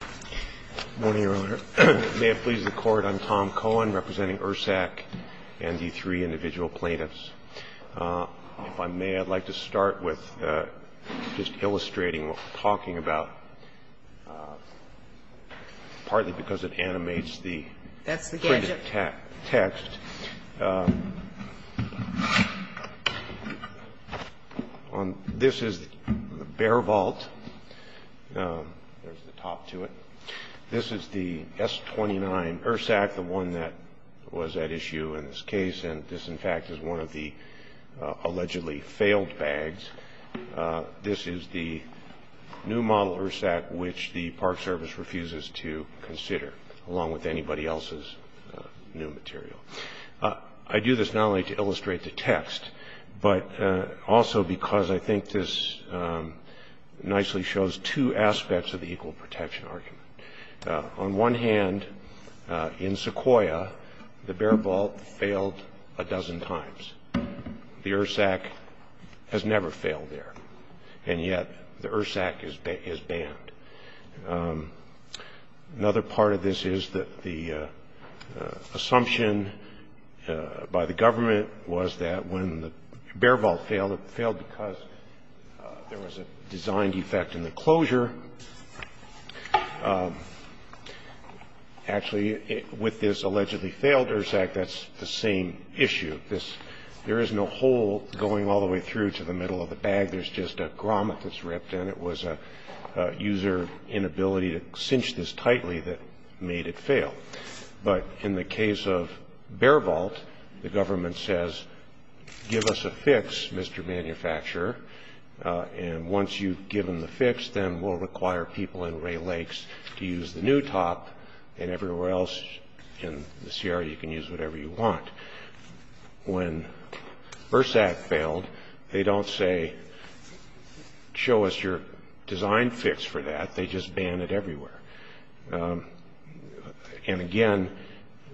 Good morning, Your Honor. May it please the Court, I'm Tom Cohen, representing ERSAC and the three individual plaintiffs. If I may, I'd like to start with just illustrating what we're talking about, partly because it animates the printed text. That's the gadget. This is the Bear Vault. There's the top to it. This is the S-29 ERSAC, the one that was at issue in this case. And this, in fact, is one of the allegedly failed bags. This is the new model ERSAC, which the Park Service refuses to consider, along with anybody else's new material. I do this not only to illustrate the text, but also because I think this nicely shows two aspects of the equal protection argument. On one hand, in Sequoia, the Bear Vault failed a dozen times. The ERSAC has never failed there. And yet the ERSAC is banned. Another part of this is that the assumption by the government was that when the Bear Vault failed, it failed because there was a design defect in the closure. Actually, with this allegedly failed ERSAC, that's the same issue. There is no hole going all the way through to the middle of the bag. There's just a grommet that's ripped, and it was a user inability to cinch this tightly that made it fail. But in the case of Bear Vault, the government says, give us a fix, Mr. Manufacturer. And once you've given the fix, then we'll require people in Ray Lakes to use the new top, and everywhere else in the Sierra, you can use whatever you want. When ERSAC failed, they don't say, show us your design fix for that. They just ban it everywhere. And again,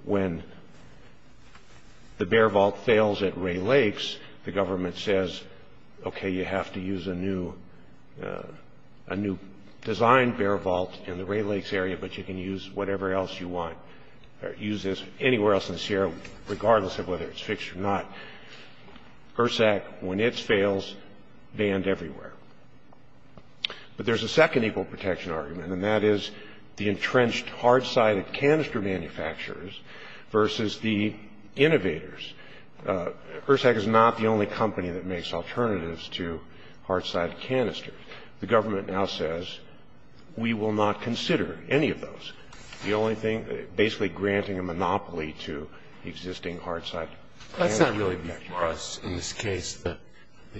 when the Bear Vault fails at Ray Lakes, the government says, okay, maybe you have to use a new design Bear Vault in the Ray Lakes area, but you can use whatever else you want. Use this anywhere else in the Sierra, regardless of whether it's fixed or not. ERSAC, when it fails, banned everywhere. But there's a second equal protection argument, and that is the entrenched hard-sided canister manufacturers versus the innovators. ERSAC is not the only company that makes alternatives to hard-sided canisters. The government now says, we will not consider any of those. The only thing, basically granting a monopoly to existing hard-sided canisters. That's not really for us. In this case, the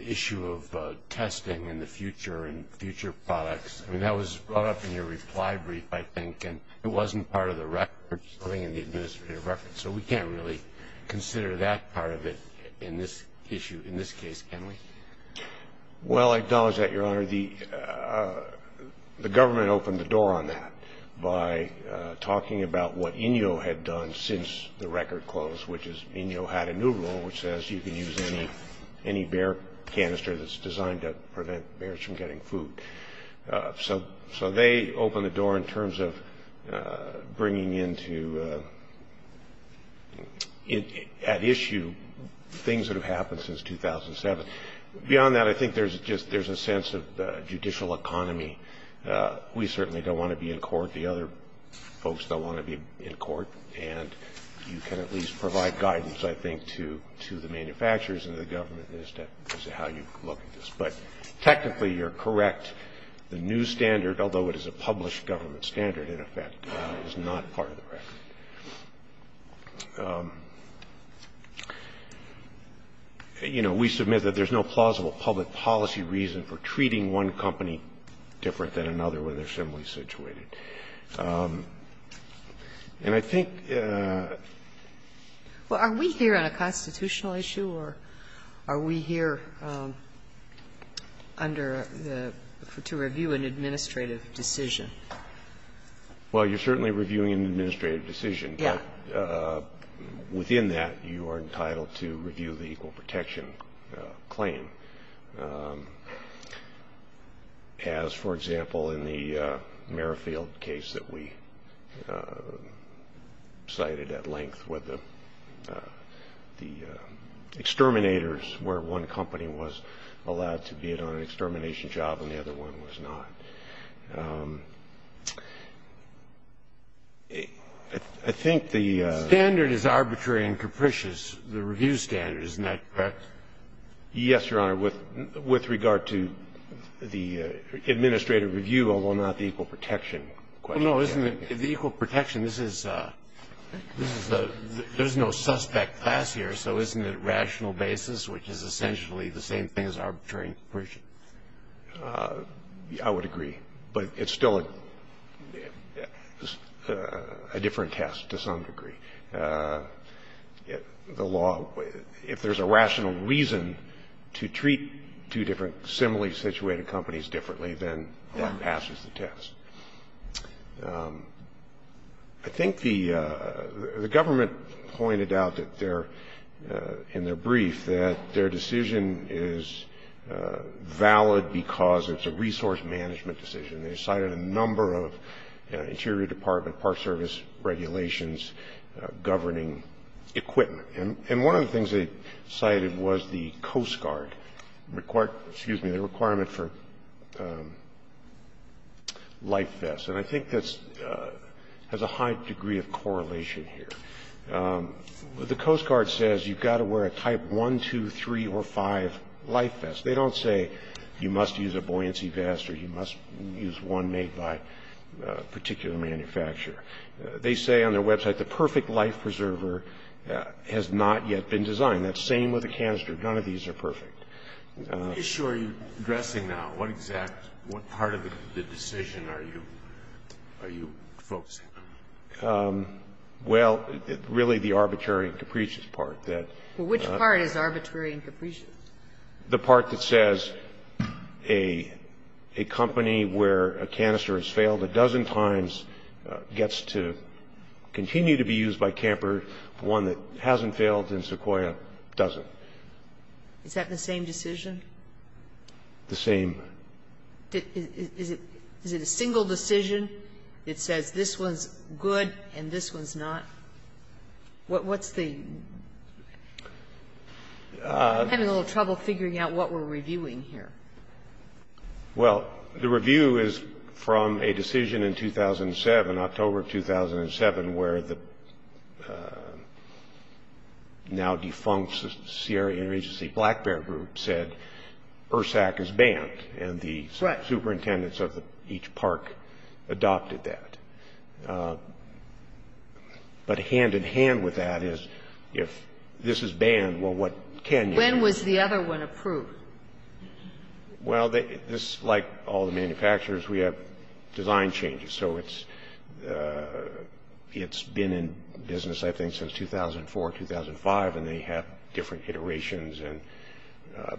issue of testing in the future and future products, I mean, that was brought up in your reply brief, I think, and it wasn't part of the record. So we can't really consider that part of it in this issue, in this case, can we? Well, I acknowledge that, Your Honor. The government opened the door on that by talking about what INYO had done since the record closed, which is INYO had a new rule which says you can use any bear canister that's designed to prevent bears from getting food. So they opened the door in terms of bringing into at issue things that have happened since 2007. Beyond that, I think there's a sense of judicial economy. We certainly don't want to be in court. The other folks don't want to be in court. And you can at least provide guidance, I think, to the manufacturers and the government as to how you look at this. But technically, you're correct. The new standard, although it is a published government standard, in effect, is not part of the record. You know, we submit that there's no plausible public policy reason for treating one company different than another when they're similarly situated. And I think the question is, well, are we here on a constitutional issue, or are we here under the to review an administrative decision? Well, you're certainly reviewing an administrative decision. Yeah. Within that, you are entitled to review the equal protection claim. As, for example, in the Merrifield case that we cited at length with the exterminators where one company was allowed to be on an extermination job and the other one was not. I think the ---- The standard is arbitrary and capricious, the review standard. Isn't that correct? Yes, Your Honor, with regard to the administrative review, although not the equal protection. Well, no, isn't it the equal protection? This is a ---- there's no suspect class here, so isn't it rational basis, which is essentially the same thing as arbitrary and capricious? I would agree. But it's still a different test to some degree. The law, if there's a rational reason to treat two different similarly situated companies differently, then that passes the test. I think the government pointed out in their brief that their decision is valid because it's a resource management decision. They cited a number of Interior Department Park Service regulations governing equipment. And one of the things they cited was the Coast Guard requirement for life vests, and I think that has a high degree of correlation here. The Coast Guard says you've got to wear a type 1, 2, 3, or 5 life vest. They don't say you must use a buoyancy vest or you must use one made by a particular manufacturer. They say on their website the perfect life preserver has not yet been designed. That's the same with a canister. None of these are perfect. Scalia. Are you sure you're addressing now what exact ---- what part of the decision are you focusing on? Well, really the arbitrary and capricious part that ---- Well, which part is arbitrary and capricious? The part that says a company where a canister has failed a dozen times gets to continue to be used by Camper, one that hasn't failed in Sequoia doesn't. Is that the same decision? The same. Is it a single decision that says this one's good and this one's not? What's the ---- I'm having a little trouble figuring out what we're reviewing here. Well, the review is from a decision in 2007, October 2007, where the now defunct Sierra Interagency Black Bear Group said ERSAC is banned. And the superintendents of each park adopted that. But hand-in-hand with that is if this is banned, well, what can you do? When was the other one approved? Well, this, like all the manufacturers, we have design changes. So it's been in business, I think, since 2004, 2005, and they have different iterations and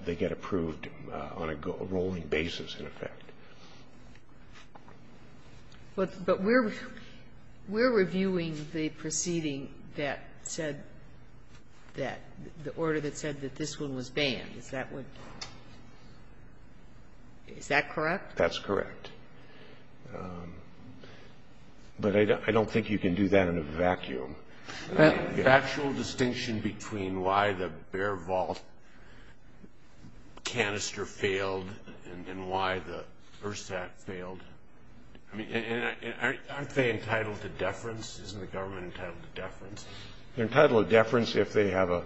they get approved on a rolling basis, in effect. But we're reviewing the proceeding that said that the order that said that this one was banned. Is that what ---- Is that correct? That's correct. But I don't think you can do that in a vacuum. The actual distinction between why the Bear Vault canister failed and why the ERSAC failed, I mean, aren't they entitled to deference? Isn't the government entitled to deference? They're entitled to deference if they have a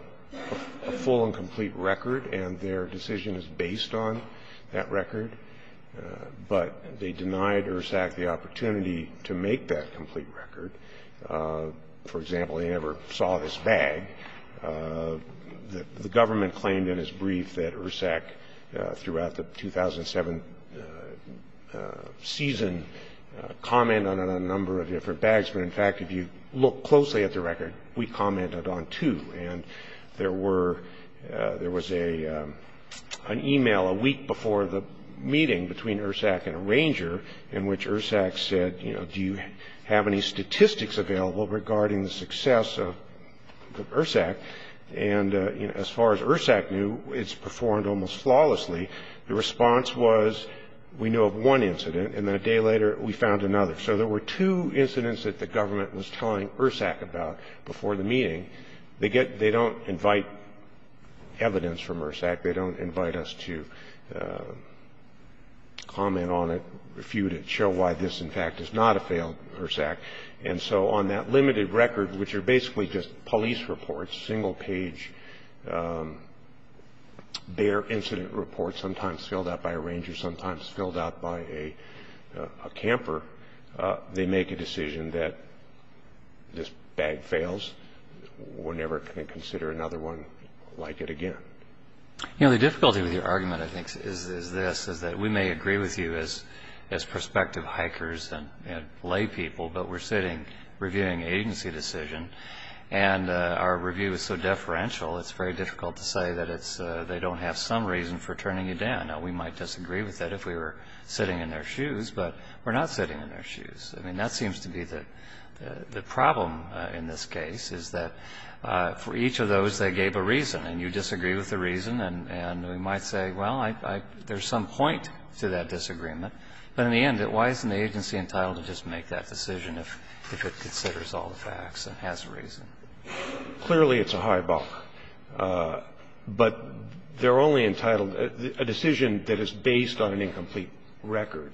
full and complete record and their decision is based on that record. But they denied ERSAC the opportunity to make that complete record. For example, they never saw this bag. The government claimed in its brief that ERSAC, throughout the 2007 season, commented on a number of different bags. But, in fact, if you look closely at the record, we commented on two. And there was an e-mail a week before the meeting between ERSAC and a ranger in which ERSAC said, you know, do you have any statistics available regarding the success of ERSAC? And, you know, as far as ERSAC knew, it's performed almost flawlessly. The response was, we know of one incident, and then a day later we found another. So there were two incidents that the government was telling ERSAC about before the meeting. They don't invite evidence from ERSAC. They don't invite us to comment on it, refute it, show why this, in fact, is not a failed ERSAC. And so on that limited record, which are basically just police reports, single-page, bare incident reports, sometimes filled out by a ranger, sometimes filled out by a camper, they make a decision that this bag fails. We're never going to consider another one like it again. You know, the difficulty with your argument, I think, is this, is that we may agree with you as prospective hikers and laypeople, but we're sitting reviewing an agency decision, and our review is so deferential, it's very difficult to say that they don't have some reason for turning you down. And I know we might disagree with that if we were sitting in their shoes, but we're not sitting in their shoes. I mean, that seems to be the problem in this case, is that for each of those, they gave a reason, and you disagree with the reason. And we might say, well, there's some point to that disagreement. But in the end, why isn't the agency entitled to just make that decision if it considers all the facts and has a reason? Clearly, it's a high buck. But they're only entitled to a decision that is based on an incomplete record.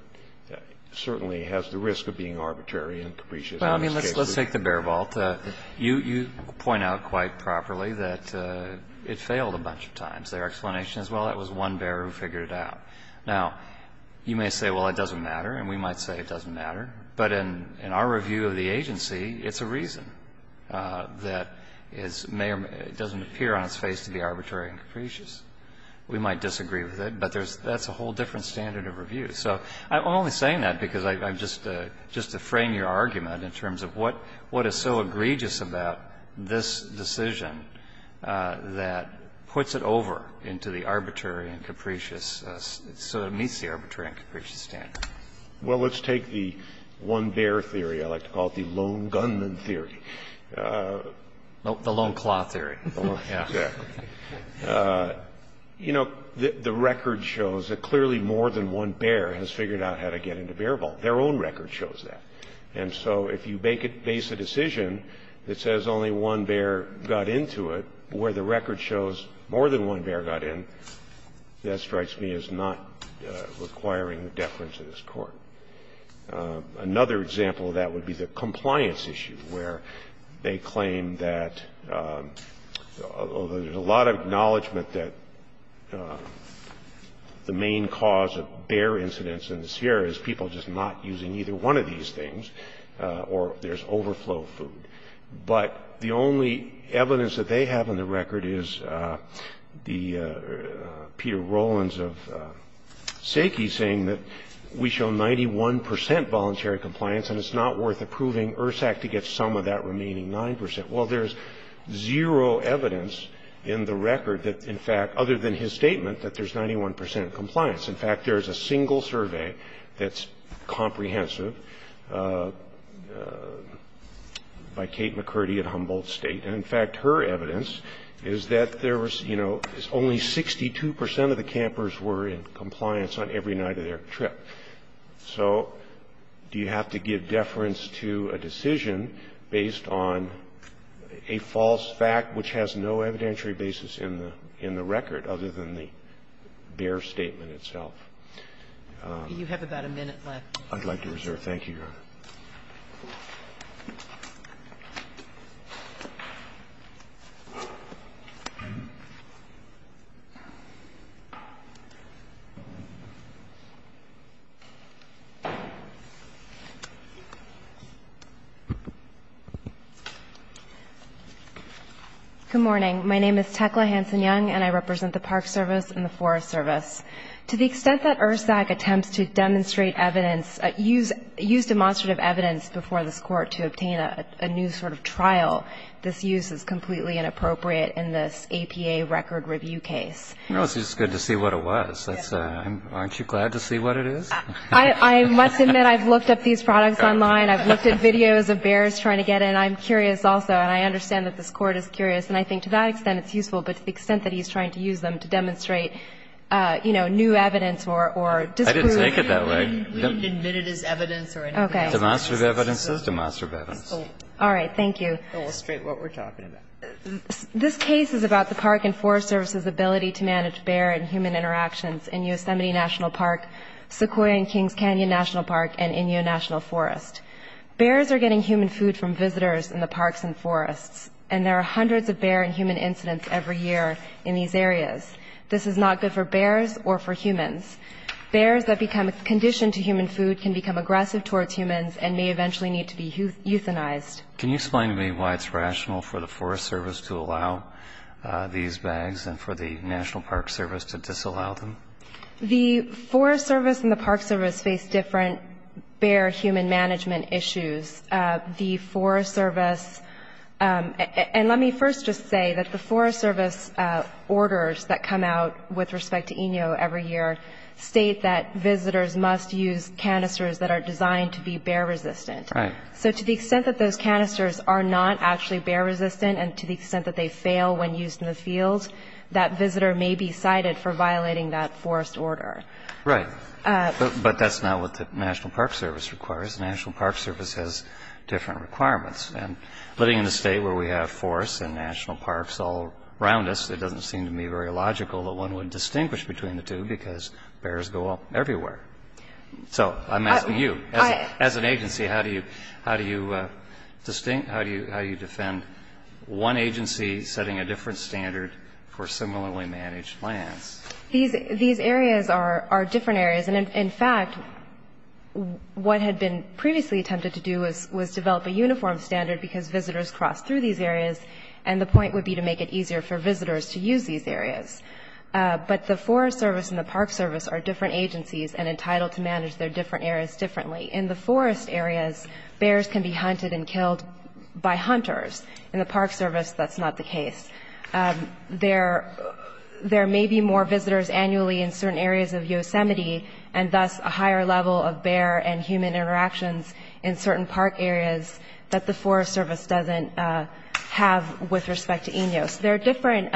It certainly has the risk of being arbitrary and capricious in this case. Well, I mean, let's take the bear vault. You point out quite properly that it failed a bunch of times. Their explanation is, well, it was one bear who figured it out. Now, you may say, well, it doesn't matter, and we might say it doesn't matter. But in our review of the agency, it's a reason. That is, it doesn't appear on its face to be arbitrary and capricious. We might disagree with it, but that's a whole different standard of review. So I'm only saying that because I'm just to frame your argument in terms of what is so egregious about this decision that puts it over into the arbitrary and capricious so it meets the arbitrary and capricious standard. Well, let's take the one bear theory. I like to call it the lone gunman theory. The lone claw theory. Exactly. You know, the record shows that clearly more than one bear has figured out how to get into bear vault. Their own record shows that. And so if you base a decision that says only one bear got into it, where the record shows more than one bear got in, that strikes me as not requiring deference in this court. Another example of that would be the compliance issue, where they claim that, although there's a lot of acknowledgment that the main cause of bear incidents in the Sierra is people just not using either one of these things or there's overflow food, but the only evidence that they have on the record is the Peter Rowlands of SACI saying that we show 91 percent voluntary compliance and it's not worth approving ERSAC to get some of that remaining 9 percent. Well, there's zero evidence in the record that, in fact, other than his statement, that there's 91 percent compliance. In fact, there's a single survey that's comprehensive by Kate McCurdy at Humboldt State, and in fact, her evidence is that there was, you know, only 62 percent of the campers were in compliance on every night of their trip. So do you have to give deference to a decision based on a false fact which has no evidentiary basis in the record other than the bear statement itself? You have about a minute left. Thank you, Your Honor. Thank you. Good morning. My name is Tecla Hanson-Young, and I represent the Park Service and the Forest Service. To the extent that ERSAC attempts to demonstrate evidence, use demonstrative evidence before this Court to obtain a new sort of trial, this use is completely inappropriate in this APA record review case. Well, it's just good to see what it was. Aren't you glad to see what it is? I must admit I've looked up these products online. I've looked at videos of bears trying to get in. I'm curious also, and I understand that this Court is curious, and I think to that I didn't take it that way. We didn't admit it as evidence or anything else. Okay. Demonstrative evidence is demonstrative evidence. All right. Thank you. I'll illustrate what we're talking about. This case is about the Park and Forest Service's ability to manage bear and human interactions in Yosemite National Park, Sequoia and Kings Canyon National Park, and Inyo National Forest. Bears are getting human food from visitors in the parks and forests, and there are hundreds of bear and human incidents every year in these areas. This is not good for bears or for humans. Bears that become conditioned to human food can become aggressive towards humans and may eventually need to be euthanized. Can you explain to me why it's rational for the Forest Service to allow these bags and for the National Park Service to disallow them? The Forest Service and the Park Service face different bear-human management issues. The Forest Service, and let me first just say that the Forest Service orders that come out with respect to Inyo every year state that visitors must use canisters that are designed to be bear-resistant. Right. So to the extent that those canisters are not actually bear-resistant, and to the extent that they fail when used in the fields, that visitor may be cited for violating that forest order. Right. But that's not what the National Park Service requires. The National Park Service has different requirements. And living in a state where we have forests and national parks all around us, it doesn't seem to me very logical that one would distinguish between the two because bears go everywhere. So I'm asking you. As an agency, how do you defend one agency setting a different standard for similarly managed lands? These areas are different areas. And, in fact, what had been previously attempted to do was develop a uniform standard because visitors cross through these areas, and the point would be to make it easier for visitors to use these areas. But the Forest Service and the Park Service are different agencies and entitled to manage their different areas differently. In the forest areas, bears can be hunted and killed by hunters. In the Park Service, that's not the case. There may be more visitors annually in certain areas of Yosemite, and thus a higher level of bear and human interactions in certain park areas that the Forest Service doesn't have with respect to INYOS. There are different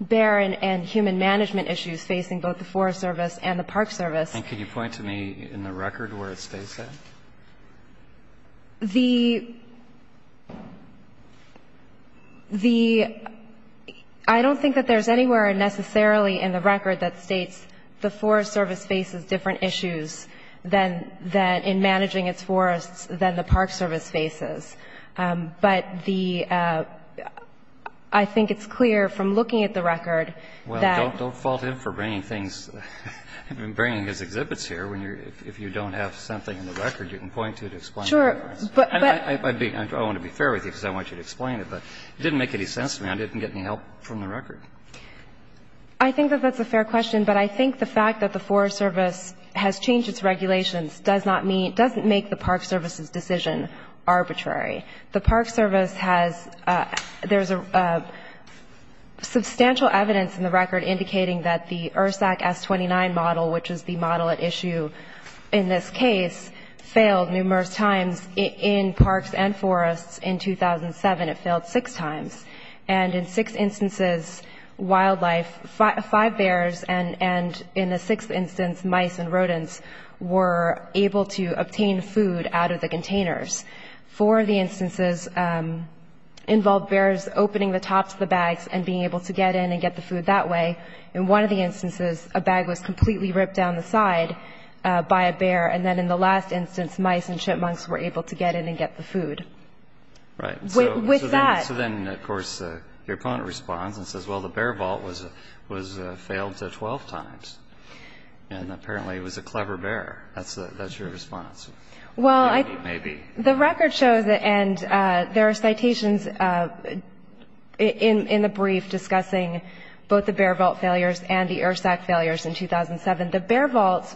bear and human management issues facing both the Forest Service and the Park Service. And can you point to me in the record where it states that? The – I don't think that there's anywhere necessarily in the record that states the Forest Service faces different issues than – than in managing its forests than the Park Service faces. But the – I think it's clear from looking at the record that – Well, don't fault him for bringing things – bringing his exhibits here. When you're – if you don't have something in the record, you can point to it to explain the difference. Sure. But – but – I'd be – I want to be fair with you because I want you to explain it. I didn't get any help from the record. I think that that's a fair question. But I think the fact that the Forest Service has changed its regulations does not mean – doesn't make the Park Service's decision arbitrary. The Park Service has – there's substantial evidence in the record indicating that the ERSAC S-29 model, which is the model at issue in this case, failed numerous times in parks and forests in 2007. It failed six times. And in six instances, wildlife – five bears and, in a sixth instance, mice and rodents were able to obtain food out of the containers. Four of the instances involved bears opening the tops of the bags and being able to get in and get the food that way. In one of the instances, a bag was completely ripped down the side by a bear. And then in the last instance, mice and chipmunks were able to get in and get the food. Right. With that – So then, of course, your opponent responds and says, well, the bear vault was failed 12 times. And apparently it was a clever bear. That's your response. Well, I – Maybe. The record shows – and there are citations in the brief discussing both the bear vault failures and the ERSAC failures in 2007. The bear vault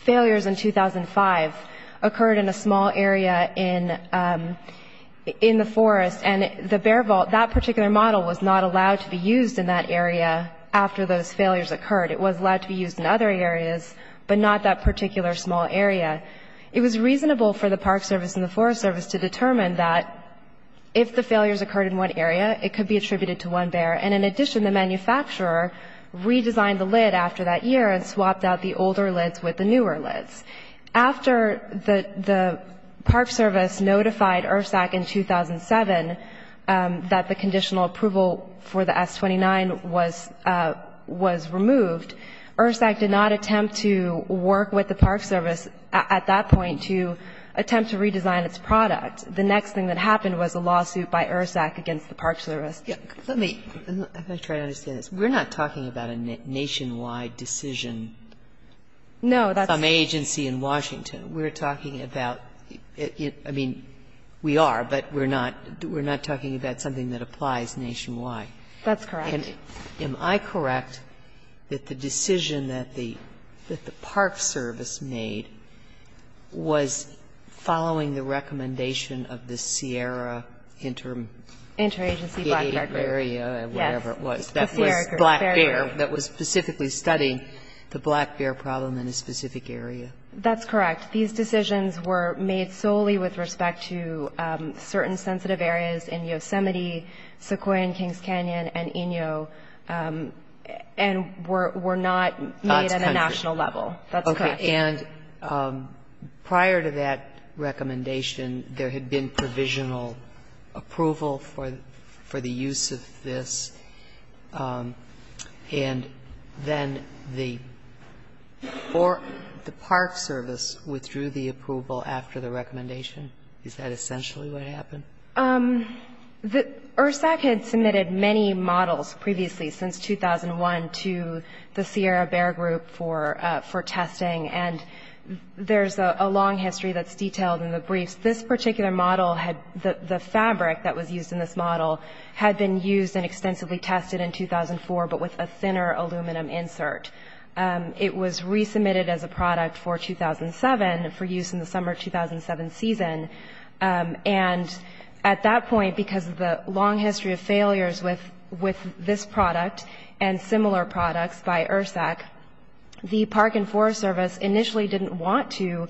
failures in 2005 occurred in a small area in the forest. And the bear vault – that particular model was not allowed to be used in that area after those failures occurred. It was allowed to be used in other areas, but not that particular small area. It was reasonable for the Park Service and the Forest Service to determine that if the failures occurred in one area, it could be attributed to one bear. And in addition, the manufacturer redesigned the lid after that year and swapped out the older lids with the newer lids. After the Park Service notified ERSAC in 2007 that the conditional approval for the S-29 was removed, ERSAC did not attempt to work with the Park Service at that point to attempt to redesign its product. The next thing that happened was a lawsuit by ERSAC against the Park Service. Let me try to understand this. We're not talking about a nationwide decision. No. Some agency in Washington. We're talking about – I mean, we are, but we're not talking about something that applies nationwide. That's correct. Am I correct that the decision that the Park Service made was following the recommendation of the Sierra Intermediate Area, whatever it was, that was Black Bear, that was specifically studying the Black Bear problem in a specific area? That's correct. These decisions were made solely with respect to certain sensitive areas in Yosemite, Sequoia and Kings Canyon, and Inyo, and were not made at a national level. That's correct. Okay. And prior to that recommendation, there had been provisional approval for the use of this, and then the Park Service withdrew the approval after the recommendation. Is that essentially what happened? ERSAC had submitted many models previously since 2001 to the Sierra Bear Group for testing, and there's a long history that's detailed in the briefs. This particular model had – the fabric that was used in this model had been used and extensively tested in 2004, but with a thinner aluminum insert. It was resubmitted as a product for 2007 for use in the summer 2007 season. And at that point, because of the long history of failures with this product and similar products by ERSAC, the Park and Forest Service initially didn't want to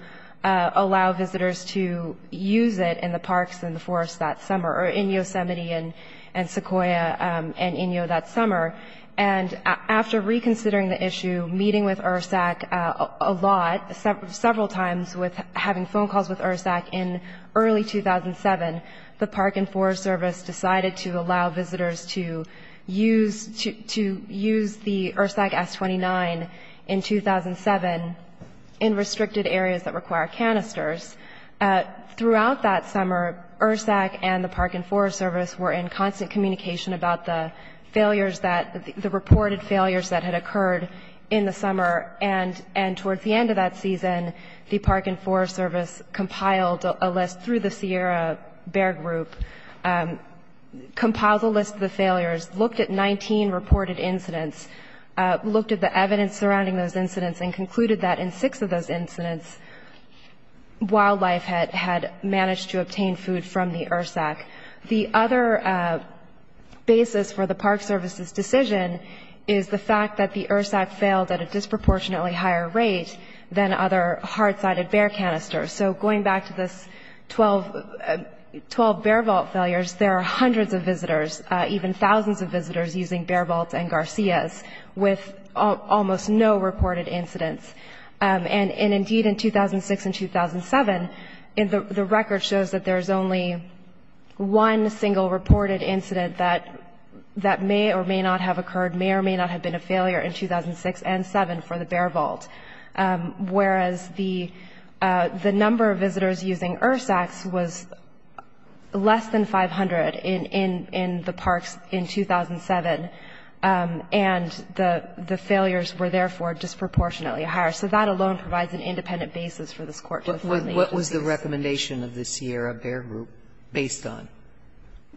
use it in the parks and the forests that summer, or in Yosemite and Sequoia and Inyo that summer. And after reconsidering the issue, meeting with ERSAC a lot, several times, with having phone calls with ERSAC in early 2007, the Park and Forest Service decided to allow visitors to use the ERSAC S-29 in 2007 in restricted areas that require canisters. Throughout that summer, ERSAC and the Park and Forest Service were in constant communication about the failures that – the reported failures that had occurred in the summer. And towards the end of that season, the Park and Forest Service compiled a list through the Sierra Bear Group, compiled a list of the failures, looked at 19 reported incidents, looked at the evidence surrounding those incidents, and concluded that in six of those incidents, wildlife had managed to obtain food from the ERSAC. The other basis for the Park Service's decision is the fact that the ERSAC failed at a disproportionately higher rate than other hard-sided bear canisters. So going back to this 12 bear vault failures, there are hundreds of visitors, even thousands of visitors using bear vaults and Garcias with almost no reported incidents. And indeed, in 2006 and 2007, the record shows that there is only one single reported incident that may or may not have occurred, may or may not have been a failure in 2006 and 2007 for the bear vault, whereas the number of visitors using ERSACs was less than 500 in the parks in 2007, and the failures were, therefore, disproportionately higher. So that alone provides an independent basis for this Court to formally introduce. Sotomayor, what was the recommendation of the Sierra Bear Group based on?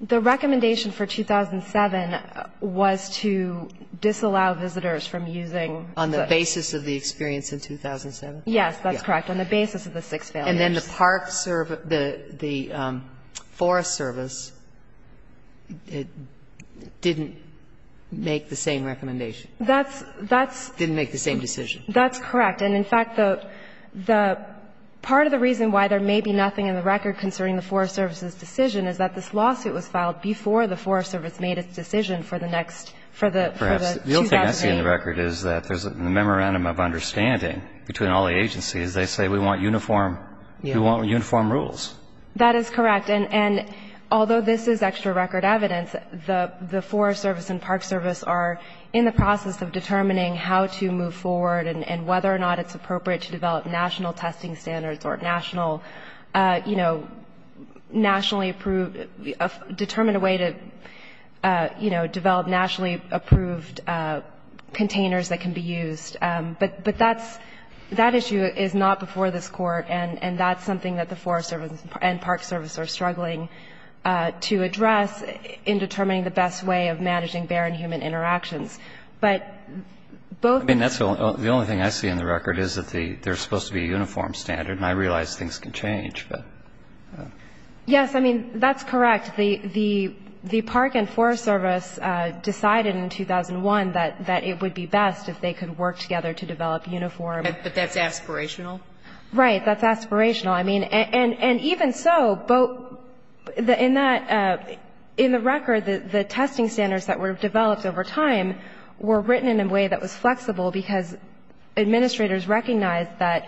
The recommendation for 2007 was to disallow visitors from using the – On the basis of the experience in 2007? Yes, that's correct, on the basis of the six failures. And then the Park Service – the Forest Service didn't make the same recommendation? That's – that's – Didn't make the same decision? That's correct. And, in fact, the – the – part of the reason why there may be nothing in the record concerning the Forest Service's decision is that this lawsuit was filed before the Forest Service made its decision for the next – for the 2008. The only thing I see in the record is that there's a memorandum of understanding between all the agencies. They say we want uniform – we want uniform rules. That is correct. And although this is extra record evidence, the Forest Service and Park Service are in the process of determining how to move forward and whether or not it's appropriate to develop national testing standards or national – you know, nationally approved – determine a way to, you know, develop nationally approved containers that can be used. But that's – that issue is not before this Court, and that's something that the Forest Service and Park Service are struggling to address in determining the best way of managing bear and human interactions. But both – I mean, that's – the only thing I see in the record is that the – there's supposed to be a uniform standard, and I realize things can change, but – Yes. I mean, that's correct. The Park and Forest Service decided in 2001 that it would be best if they could work together to develop uniform – But that's aspirational? Right. That's aspirational. I mean – and even so, both – in that – in the record, the testing standards that were developed over time were written in a way that was flexible because administrators recognized that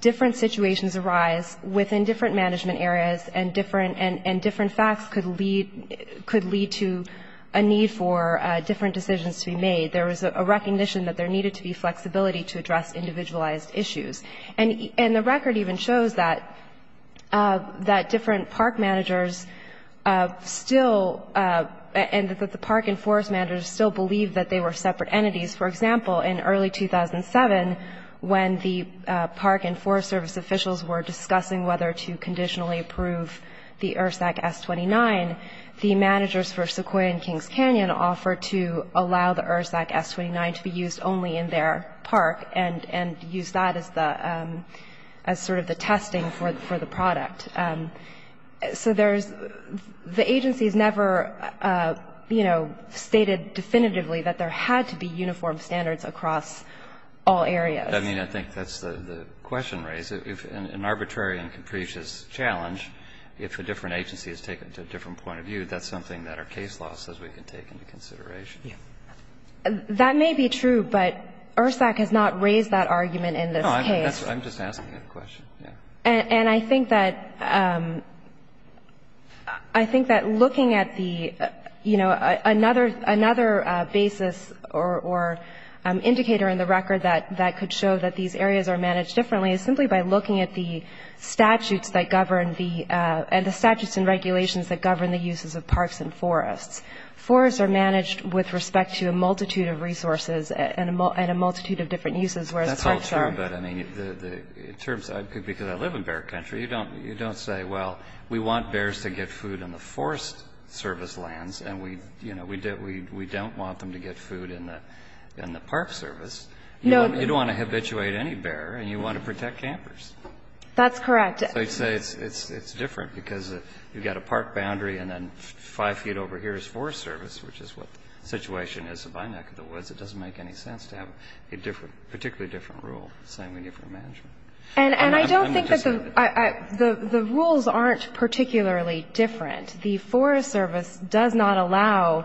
different situations arise within different management areas and different – and different facts could lead – could lead to a need for different decisions to be made. There was a recognition that there needed to be flexibility to address individualized issues. And the record even shows that different park managers still – and that the park and forest managers still believed that they were separate entities. For example, in early 2007, when the Park and Forest Service officials were discussing whether to conditionally approve the ERSAC S-29, the managers for Sequoia and Kings Canyon offered to allow the ERSAC S-29 to be used only in their park and use that as the – as sort of the testing for the product. So there's – the agencies never, you know, stated definitively that there had to be uniform standards across all areas. I mean, I think that's the question raised. If an arbitrary and capricious challenge, if a different agency is taken to a different point of view, that's something that our case law says we can take into consideration. Yeah. That may be true, but ERSAC has not raised that argument in this case. No, I'm just asking a question. And I think that – I think that looking at the – you know, another basis or indicator in the record that could show that these areas are managed differently is simply by looking at the statutes that govern the – and the statutes and regulations that govern the uses of parks and forests. Forests are managed with respect to a multitude of resources and a multitude of different uses, whereas parks are – Because I live in bear country, you don't say, well, we want bears to get food in the forest service lands, and we – you know, we don't want them to get food in the park service. No. You don't want to habituate any bear, and you want to protect campers. That's correct. So you'd say it's different because you've got a park boundary, and then five feet over here is forest service, which is what the situation is by the neck of the woods. It doesn't make any sense to have a different – particularly different rule saying we need for management. And I don't think that the – the rules aren't particularly different. The forest service does not allow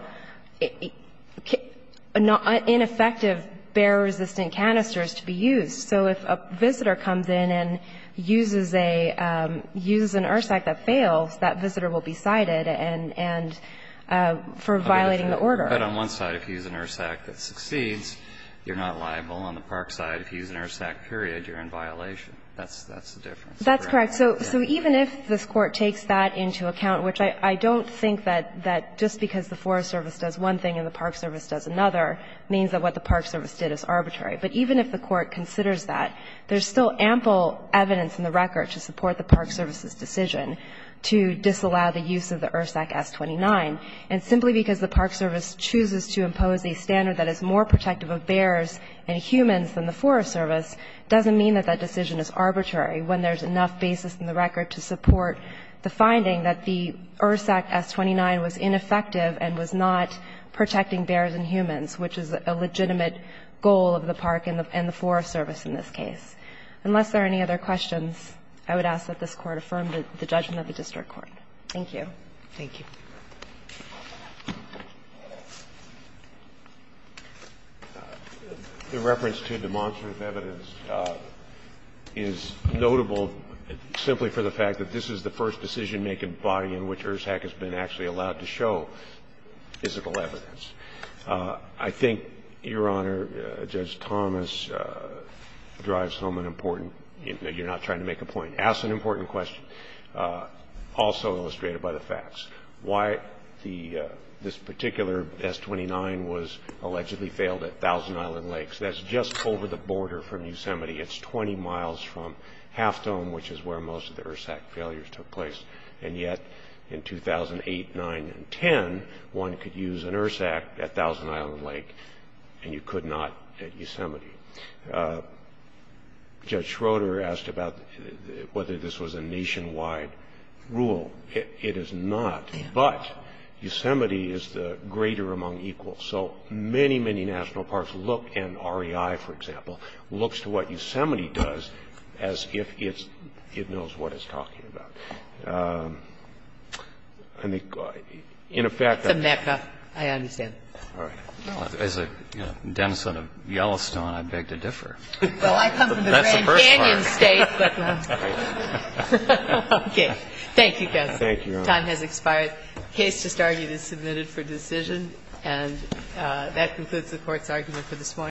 ineffective bear-resistant canisters to be used. So if a visitor comes in and uses a – uses an ERSAC that fails, that visitor will be cited and – for violating the order. But on one side, if you use an ERSAC that succeeds, you're not liable. On the park side, if you use an ERSAC, period, you're in violation. That's the difference. That's correct. So even if this Court takes that into account, which I don't think that just because the forest service does one thing and the park service does another means that what the park service did is arbitrary. But even if the Court considers that, there's still ample evidence in the record to support the park service's decision to disallow the use of the ERSAC S-29. And simply because the park service chooses to impose a standard that is more protective of bears and humans than the forest service doesn't mean that that decision is arbitrary when there's enough basis in the record to support the finding that the ERSAC S-29 was ineffective and was not protecting bears and humans, which is a legitimate goal of the park and the forest service in this case. Unless there are any other questions, I would ask that this Court affirm the judgment of the district court. Thank you. Thank you. The reference to demonstrative evidence is notable simply for the fact that this is the first decision-making body in which ERSAC has been actually allowed to show physical evidence. I think, Your Honor, Judge Thomas drives home an important you're not trying to make a point. He asks an important question, also illustrated by the facts. Why this particular S-29 was allegedly failed at Thousand Island Lake. That's just over the border from Yosemite. It's 20 miles from Half Dome, which is where most of the ERSAC failures took place. And yet, in 2008, 9, and 10, one could use an ERSAC at Thousand Island Lake and you could not at Yosemite. So the question is, is this a nation-wide rule? It is not. But Yosemite is the greater among equals. So many, many national parks look, and REI, for example, looks to what Yosemite does as if it knows what it's talking about. I mean, in effect, I think that's a. I understand. As a denizen of Yellowstone, I beg to differ. Well, I come from the Grand Canyon State, but, okay. Thank you, counsel. Thank you, Your Honor. Time has expired. The case just argued is submitted for decision. And that concludes the Court's argument for this morning.